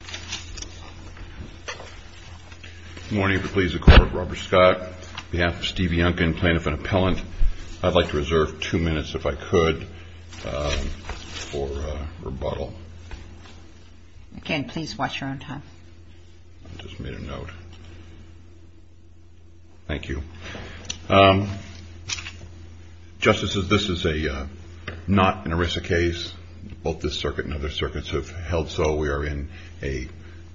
Justice, this is not an ERISA case. Both this circuit and other circuits have held so. We are in a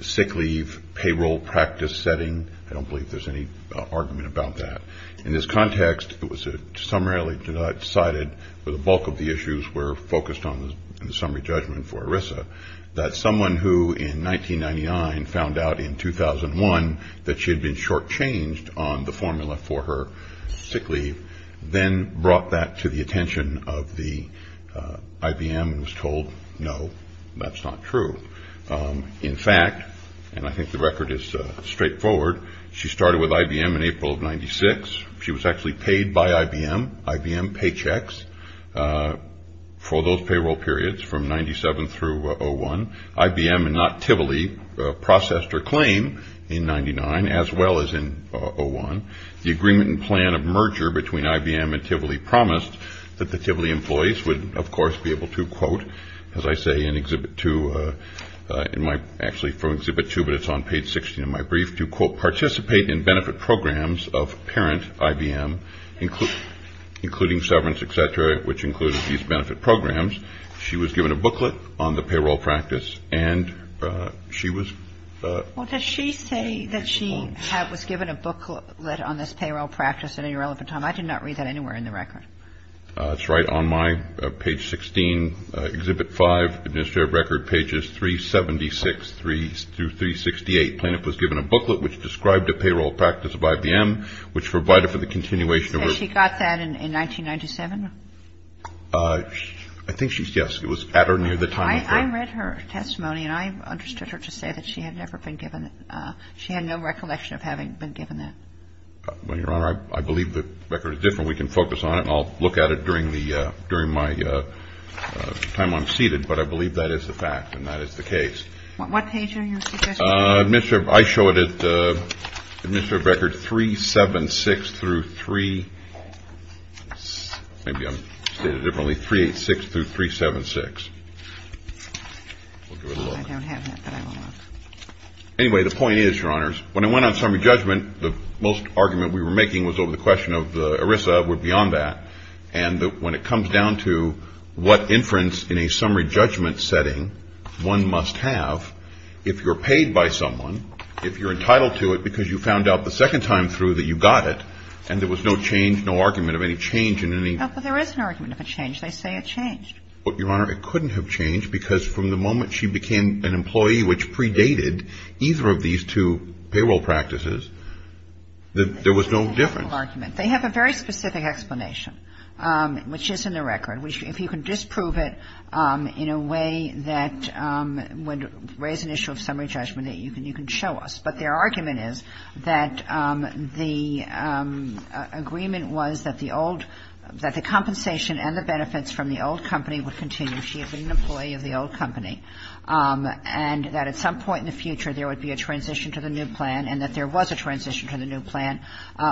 sick leave payroll practice setting. I don't believe there's any argument about that. In this context, it was summarily decided for the bulk of the issues were focused on the summary judgment for ERISA, that someone who in 1999 found out in 2001 that she had been shortchanged on the formula for her sick leave, then brought that to the attention of the IBM and was told, no, that's not true. In fact, and I think the record is straightforward, she started with IBM in April of 96. She was actually paid by IBM, IBM paychecks for those payroll periods from 97 through 01. IBM and not Tivoli processed her claim in 99 as well as in 01. The agreement and plan of merger between IBM and Tivoli promised that the Tivoli employees would, of course, be able to, quote, as I say in Exhibit 2, in my actually from Exhibit 2, but it's on page 16 of my brief, to, quote, participate in benefit programs of parent IBM, including severance, et cetera, which included these benefit programs. She was given a booklet on the payroll practice, and she was. Well, does she say that she was given a booklet on this payroll practice at any relevant time? I did not read that anywhere in the record. That's right. On my page 16, Exhibit 5, Administrative Record, pages 376 through 368, Plaintiff was given a booklet which described the payroll practice of IBM, which provided for the continuation of her. And she got that in 1997? I think she, yes. It was at or near the time of her. I read her testimony, and I understood her to say that she had never been given it. She had no recollection of having been given that. Well, Your Honor, I believe the record is different. We can focus on it, and I'll look at it during the, during my time I'm seated. But I believe that is the fact, and that is the case. What page are you suggesting? I show it at Administrative Record 376 through 3, maybe I'll state it differently, 386 through 376. We'll give it a look. I don't have that, but I will look. Anyway, the point is, Your Honors, when I went on summary judgment, the most argument we were making was over the question of the ERISA, or beyond that. And when it comes down to what inference in a summary judgment setting one must have, if you're paid by someone, if you're entitled to it because you found out the second time through that you got it, and there was no change, no argument of any change in any. No, but there is an argument of a change. They say it changed. Well, Your Honor, it couldn't have changed, because from the moment she became an employee, which predated either of these two payroll practices, that there was no difference. They have a very specific explanation, which is in the record. If you can disprove it in a way that would raise an issue of summary judgment, you can show us. But their argument is that the agreement was that the compensation and the benefits from the old company would continue. She had been an employee of the old company, and that at some point in the future there would be a transition to the new plan, and that there was a transition to the new plan,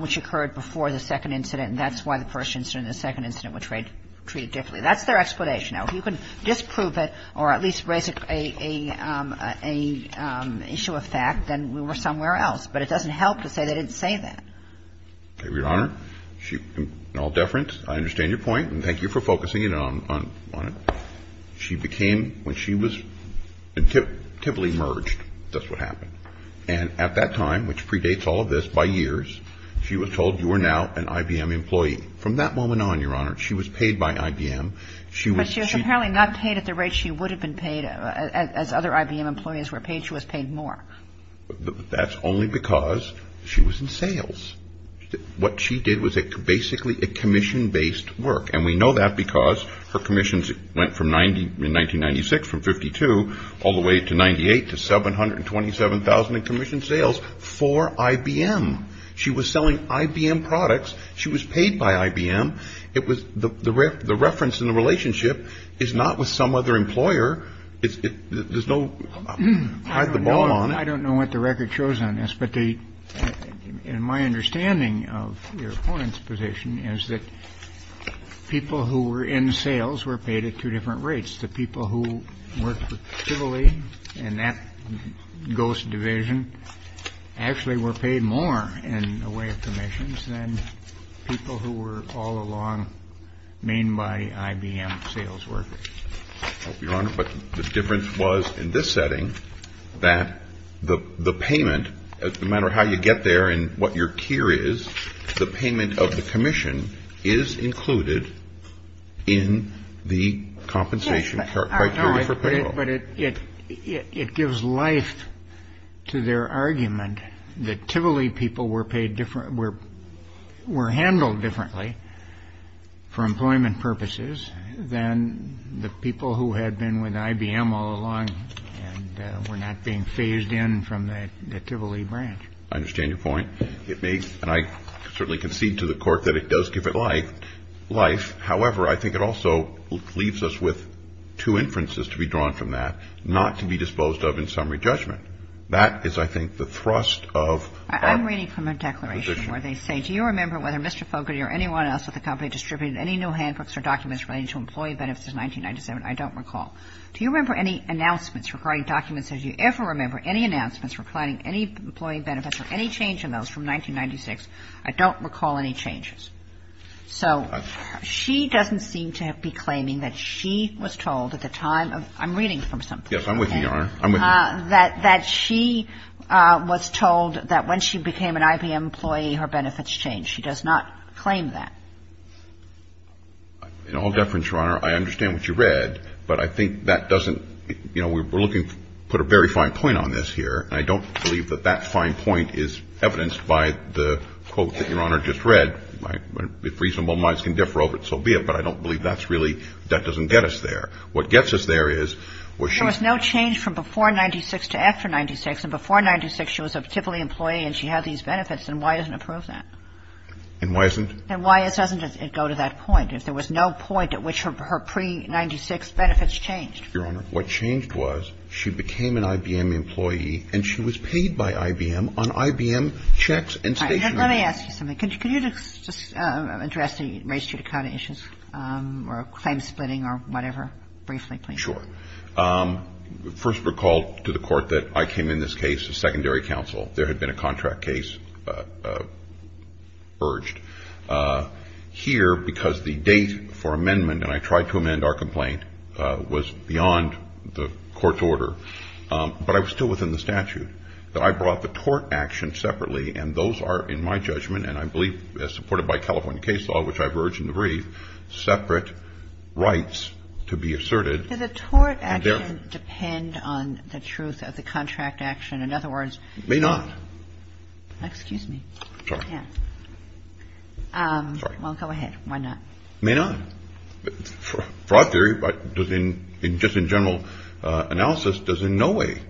which occurred before the second incident. And that's why the first incident and the second incident were treated differently. That's their explanation. Now, if you can disprove it, or at least raise an issue of fact, then we were somewhere else. But it doesn't help to say they didn't say that. Okay, Your Honor, in all deference, I understand your point, and thank you for focusing in on it. The first one is that she was paid by IBM. She was paid by IBM. She became, when she was intimately merged, that's what happened. And at that time, which predates all of this by years, she was told, you are now an IBM employee. From that moment on, Your Honor, she was paid by IBM. She was she was apparently not paid at the rate she would have been paid as other IBM employees were paid. She was paid more. That's only because she was in sales. What she did was basically a commission based work. And we know that because her commissions went from 90 in 1996 from 52 all the way to 98 to 727000 in commission sales for IBM. She was selling IBM products. She was paid by IBM. It was the the reference in the relationship is not with some other employer. It's there's no I don't know. I don't know what the record shows on this. But in my understanding of your opponent's position is that people who were in sales were paid at two different rates. The people who worked for Chivalry and that ghost division actually were paid more in a way of commissions than people who were all along maimed by IBM sales workers. Your Honor, but the difference was in this setting that the payment, no matter how you get there and what your tier is, the payment of the commission is included in the compensation. But it gives life to their argument that Chivalry people were paid different were were handled differently for employment purposes than the people who had been with IBM all along and were not being phased in from the Chivalry branch. I understand your point. It makes and I certainly concede to the court that it does give it like life. However, I think it also leaves us with two inferences to be drawn from that not to be disposed of in summary judgment. That is, I think, the thrust of I'm reading from a declaration where they say, do you remember whether Mr. Fogarty or anyone else at the company distributed any new handbooks or documents relating to employee benefits in 1997? I don't recall. Do you remember any announcements regarding documents? Did you ever remember any announcements for planning any employee benefits or any change in those from 1996? I don't recall any changes. So she doesn't seem to be claiming that she was told at the time of I'm reading from something. Yes, I'm with you. I'm with that that she was told that when she became an IBM employee, her benefits change. She does not claim that in all deference. Your Honor, I understand what you read, but I think that doesn't you know, we're looking to put a very fine point on this here. And I don't believe that that fine point is evidenced by the quote that Your Honor just read. If reasonable minds can differ over it, so be it. But I don't believe that's really that doesn't get us there. What gets us there is where she There was no change from before 96 to after 96. And before 96, she was a Tivoli employee and she had these benefits. And why doesn't it prove that? And why isn't And why doesn't it go to that point? If there was no point at which her pre-96 benefits changed. Your Honor, what changed was she became an IBM employee and she was paid by IBM on IBM checks and statements. Let me ask you something. Can you just address the race judicata issues or claim splitting or whatever, briefly, please? Sure. First, recall to the Court that I came in this case as secondary counsel. There had been a contract case urged here because the date for amendment, and I tried to amend our complaint, was beyond the Court's order. But I was still within the statute. That I brought the tort action separately, and those are, in my judgment, and I believe as supported by California case law, which I've urged in the brief, separate rights to be asserted. Does the tort action depend on the truth of the contract action? In other words, It may not. Excuse me. I'm sorry. Yeah. Well, go ahead. Why not? It may not. In broad theory, but just in general analysis, does in no way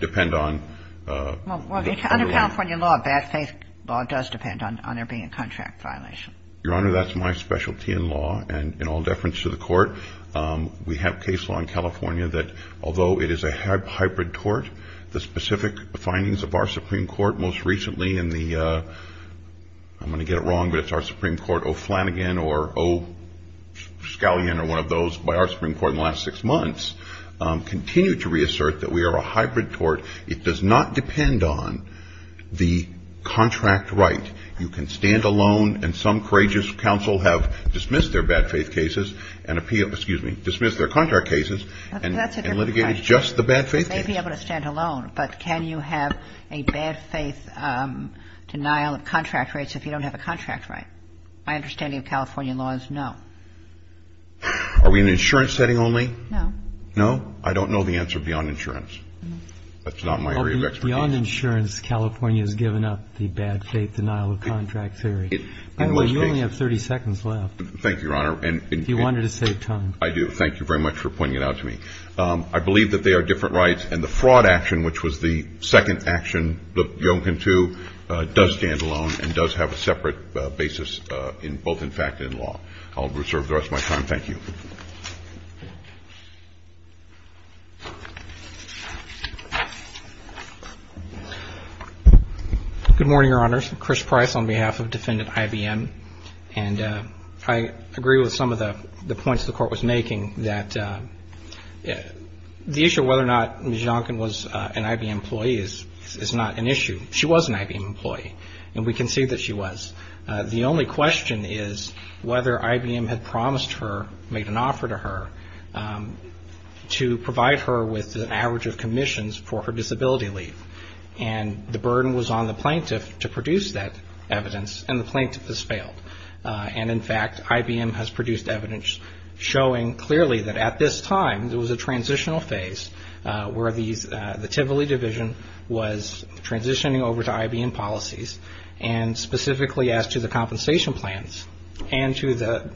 depend on the tort law. Well, under California law, bad faith law does depend on there being a contract violation. Your Honor, that's my specialty in law, and in all deference to the Court, we have case law in California that, although it is a hybrid tort, the specific findings of our Supreme Court most recently in the, I'm going to get it wrong, but it's our Supreme Court, O'Flanagan or O'Scalion or one of those by our Supreme Court in the last six months, continue to reassert that we are a hybrid tort. It does not depend on the contract right. You can stand alone, and some courageous counsel have dismissed their bad faith cases and, excuse me, dismissed their contract cases and litigated just the bad faith cases. You may be able to stand alone, but can you have a bad faith denial of contract rights if you don't have a contract right? My understanding of California law is no. Are we in an insurance setting only? No. No? I don't know the answer beyond insurance. That's not my area of expertise. Beyond insurance, California has given up the bad faith denial of contract theory. In my case. You only have 30 seconds left. Thank you, Your Honor. If you wanted to save time. I do. Thank you very much for pointing it out to me. I believe that they are different rights, and the fraud action, which was the second action, the Yonkin 2, does stand alone and does have a separate basis, both in fact and in law. I'll reserve the rest of my time. Thank you. Good morning, Your Honors. Chris Price on behalf of Defendant IBM. And I agree with some of the points the court was making that the issue of whether or not Ms. Yonkin was an IBM employee is not an issue. She was an IBM employee, and we can see that she was. The only question is whether IBM had promised her, made an offer to her, to provide her with an average of commissions for her disability leave. And the burden was on the plaintiff to produce that evidence, and the plaintiff has failed. And in fact, IBM has produced evidence showing clearly that at this time, there was a transitional phase where the Tivoli division was transitioning over to IBM policies. And specifically as to the compensation plans and to the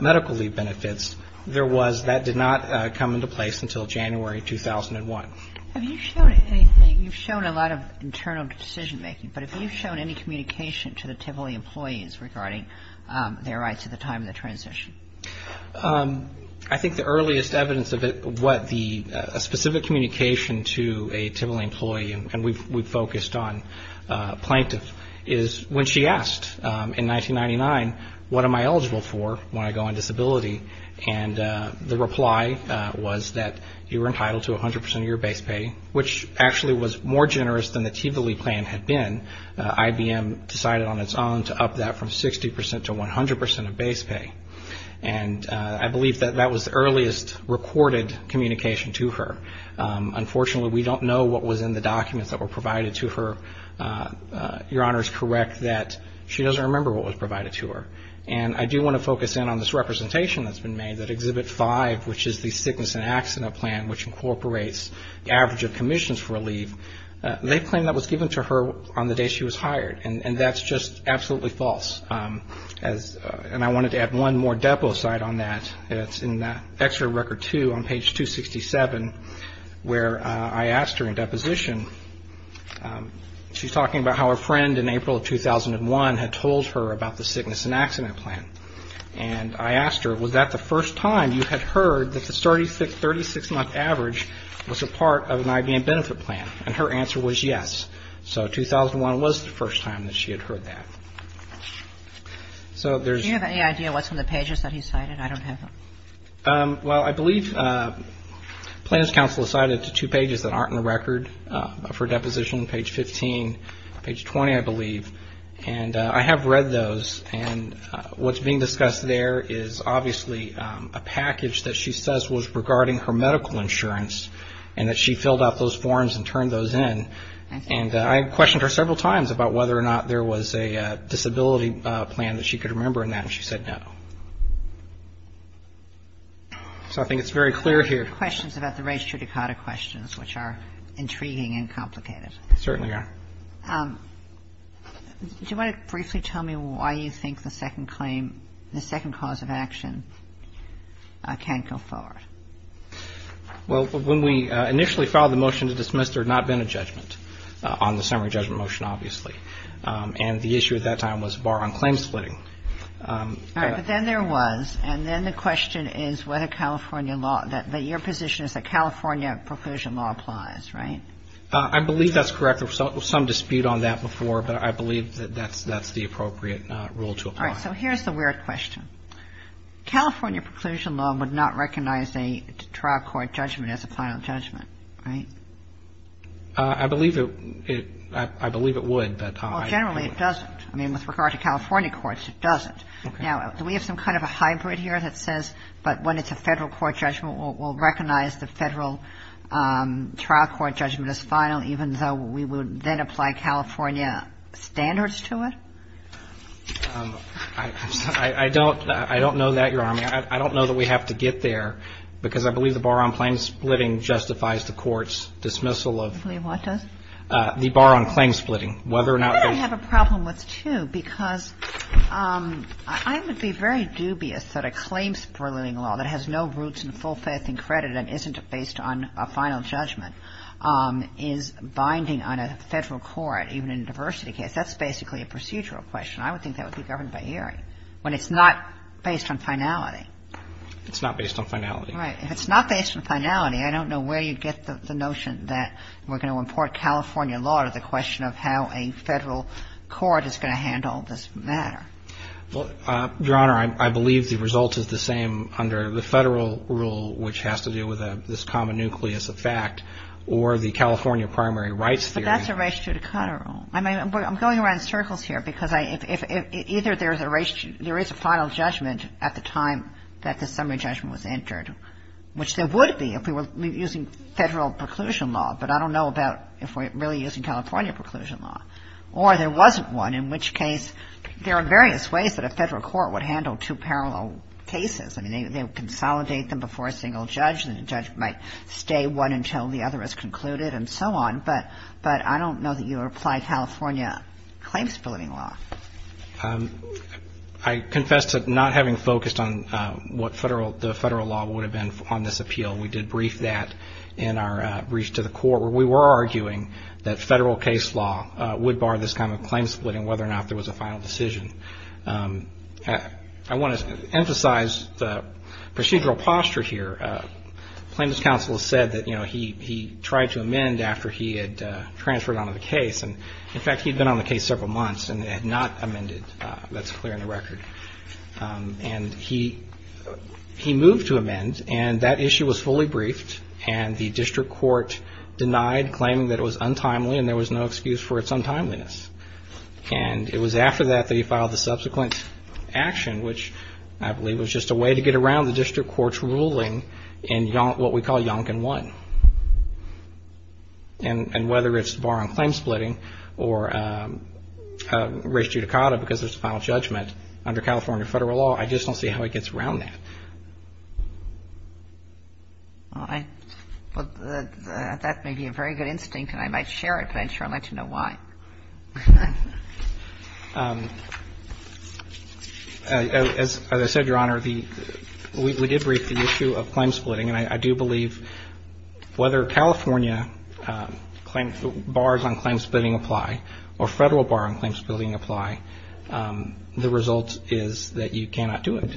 medical leave benefits, that did not come into place until January 2001. Have you shared anything? You've shown a lot of internal decision-making, but have you shown any communication to the Tivoli employees regarding their rights at the time of the transition? I think the earliest evidence of what the specific communication to a Tivoli employee, and we've focused on plaintiff, is when she asked in 1999, what am I eligible for when I go on disability? And the reply was that you were entitled to 100% of your base pay, which actually was more generous than the Tivoli plan had been. IBM decided on its own to up that from 60% to 100% of base pay. And I believe that that was the earliest recorded communication to her. Unfortunately, we don't know what was in the documents that were provided to her. Your Honor is correct that she doesn't remember what was provided to her. And I do want to focus in on this representation that's been made, that Exhibit 5, which is the sickness and accident plan, which incorporates the average of commissions for a leave. They claim that was given to her on the day she was hired. And that's just absolutely false. And I wanted to add one more depo site on that. It's in Exeter Record 2 on page 267, where I asked her in deposition. She's talking about how a friend in April of 2001 had told her about the sickness and accident plan. And I asked her, was that the first time you had heard that the 36-month average was a part of an IBM benefit plan? And her answer was yes. So 2001 was the first time that she had heard that. So there's... Do you have any idea what's on the pages that he cited? I don't have them. Well, I believe Plans Council has cited two pages that aren't in the record of her deposition, page 15, page 20, I believe. And I have read those. And what's being discussed there is obviously a package that she says was regarding her medical insurance, and that she filled out those forms and turned those in. And I questioned her several times about whether or not there was a disability plan that she could remember in that. And she said no. So I think it's very clear here. Questions about the race judicata questions, which are intriguing and complicated. Certainly are. Do you want to briefly tell me why you think the second claim, the second cause of action can't go forward? Well, when we initially filed the motion to dismiss, there had not been a judgment on the summary judgment motion, obviously. And the issue at that time was bar on claim splitting. All right, but then there was. And then the question is whether California law, that your position is that California preclusion law applies, right? I believe that's correct. There was some dispute on that before, but I believe that that's the appropriate rule to apply. All right, so here's the weird question. California preclusion law would not recognize a trial court judgment as a final judgment, right? I believe it would. Well, generally it doesn't. I mean, with regard to California courts, it doesn't. Now, do we have some kind of a hybrid here that says, but when it's a federal court judgment, we'll recognize the federal trial court judgment as final, even though we would then apply California standards to it? I don't know that, Your Honor. I mean, I don't know that we have to get there, because I believe the bar on claim splitting justifies the court's dismissal of the bar on claim splitting, whether or not there's. I have a problem with two, because I would be very dubious that a claim splitting law that has no roots in full faith and credit and isn't based on a final judgment is binding on a federal court, even in a diversity case. That's basically a procedural question. I would think that would be governed by Erie, when it's not based on finality. It's not based on finality. Right. If it's not based on finality, I don't know where you'd get the notion that we're going to import California law to the question of how a federal court is going to handle this matter. Well, Your Honor, I believe the result is the same under the federal rule, which has to do with this common nucleus of fact, or the California primary rights theory. But that's a ratio to Conner rule. I'm going around in circles here, because either there is a final judgment at the time that the summary judgment was entered, which there would be if we were using federal preclusion law. But I don't know about if we're really using California preclusion law, or there wasn't one, in which case there are various ways that a federal court would handle two parallel cases. I mean, they would consolidate them before a single judge, and the judge might stay one until the other is concluded and so on. But I don't know that you apply California claim-splitting law. I confess to not having focused on what the federal law would have been on this appeal. We did brief that in our breach to the court, where we were arguing that federal case law would bar this kind of claim-splitting, whether or not there was a final decision. I want to emphasize the procedural posture here. Plaintiff's counsel has said that he tried to amend after he had transferred onto the case. And in fact, he'd been on the case several months and had not amended. That's clear in the record. And he moved to amend, and that issue was fully briefed. And the district court denied, claiming that it was untimely and there was no excuse for its untimeliness. And it was after that that he filed the subsequent action, which I believe was just a way to get around the district court's ruling in what we call Yonkin 1. And whether it's barring claim-splitting or res judicata because there's a final judgment under California federal law, I just don't see how he gets around that. Well, that may be a very good instinct, and I might share it, but I'm not sure I'd like to know why. As I said, Your Honor, we did brief the issue of claim-splitting, and I do believe whether California bars on claim-splitting apply or federal bars on claim-splitting apply, the result is that you cannot do it.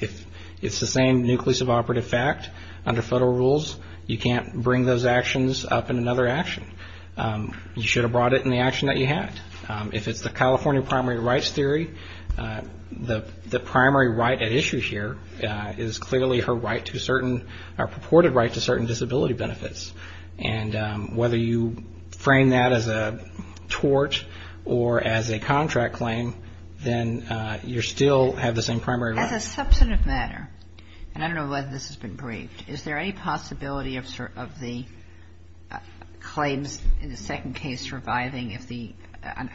If it's the same nucleus of operative fact under federal rules, you can't bring those actions up in another action. You should have brought it in the action that you had. If it's the California primary rights theory, the primary right at issue here is clearly her right to certain, her purported right to certain disability benefits. And whether you frame that as a tort or as a contract claim, then you still have the same primary right. As a substantive matter, and I don't know whether this has been briefed, is there any possibility of the claims in the second case surviving if the,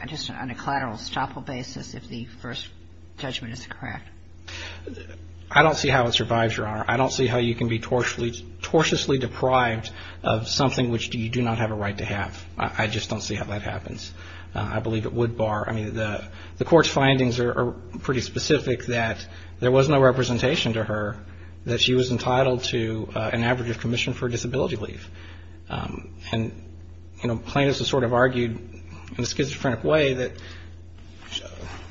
just on a collateral estoppel basis, if the first judgment is correct? I don't see how it survives, Your Honor. I don't see how you can be tortiously deprived of something which you do not have a right to have. I just don't see how that happens. I believe it would bar. I mean, the court's findings are pretty specific that there was no representation to her that she was entitled to an average of commission for disability leave. And plaintiffs have sort of argued in a schizophrenic way that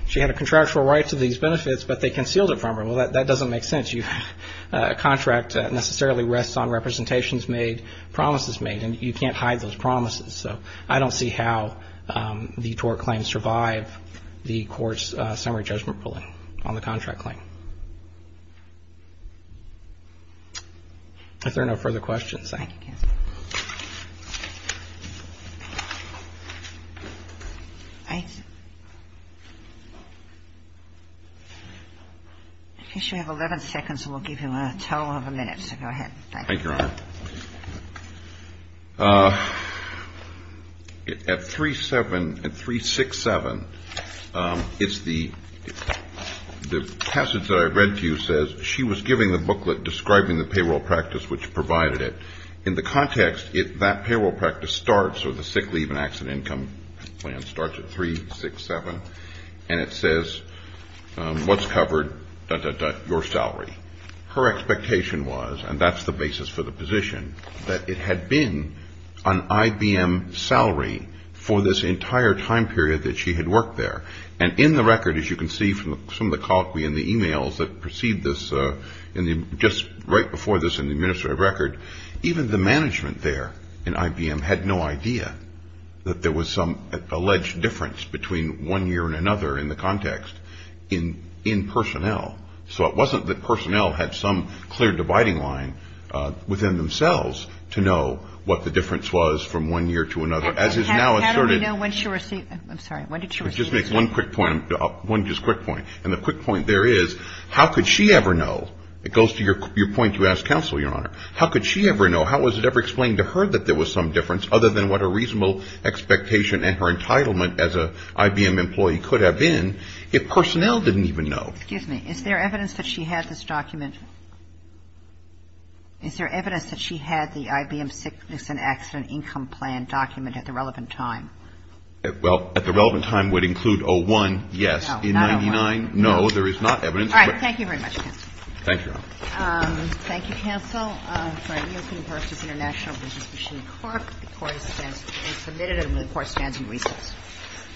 she had a contractual right to these benefits, but they concealed it from her. Well, that doesn't make sense. A contract necessarily rests on representations made, promises made, and you can't hide those promises. So I don't see how the tort claims survive the court's summary judgment ruling on the contract claim. If there are no further questions, thank you. Thank you, counsel. I guess you have 11 seconds, and we'll give you a total of a minute, so go ahead. Thank you. Thank you, Your Honor. At 3-7, at 3-6-7, it's the passage that I read to you says she was giving the booklet describing the payroll practice which provided it. In the context, that payroll practice starts, or the sick leave and accident income plan starts at 3-6-7, and it says what's covered, dot, dot, dot, your salary. Her expectation was, and that's the basis for the position, that it had been an IBM salary for this entire time period that she had worked there. And in the record, as you can see from some of the colloquy in the e-mails that precede this, just right before this in the administrative record, even the management there in IBM had no idea that there was some alleged difference between one year and another in the context in personnel. So it wasn't that personnel had some clear dividing line within themselves to know what the difference was from one year to another. As is now asserted — How do we know when she received — I'm sorry. When did she receive this? Just make one quick point. One just quick point. And the quick point there is, how could she ever know — it goes to your point you asked counsel, Your Honor. How could she ever know? How was it ever explained to her that there was some difference, other than what a reasonable expectation and her entitlement as an IBM employee could have been, if personnel didn't even know? Excuse me. Is there evidence that she had this document? Is there evidence that she had the IBM sickness and accident income plan document at the relevant time? Well, at the relevant time would include 01, yes. Oh, not 01. In 99, no, there is not evidence. All right. Thank you very much, counsel. Thank you, Your Honor. Thank you, counsel. For IEOC versus International Business Machine Corp., the court is submitted and the court stands in recess.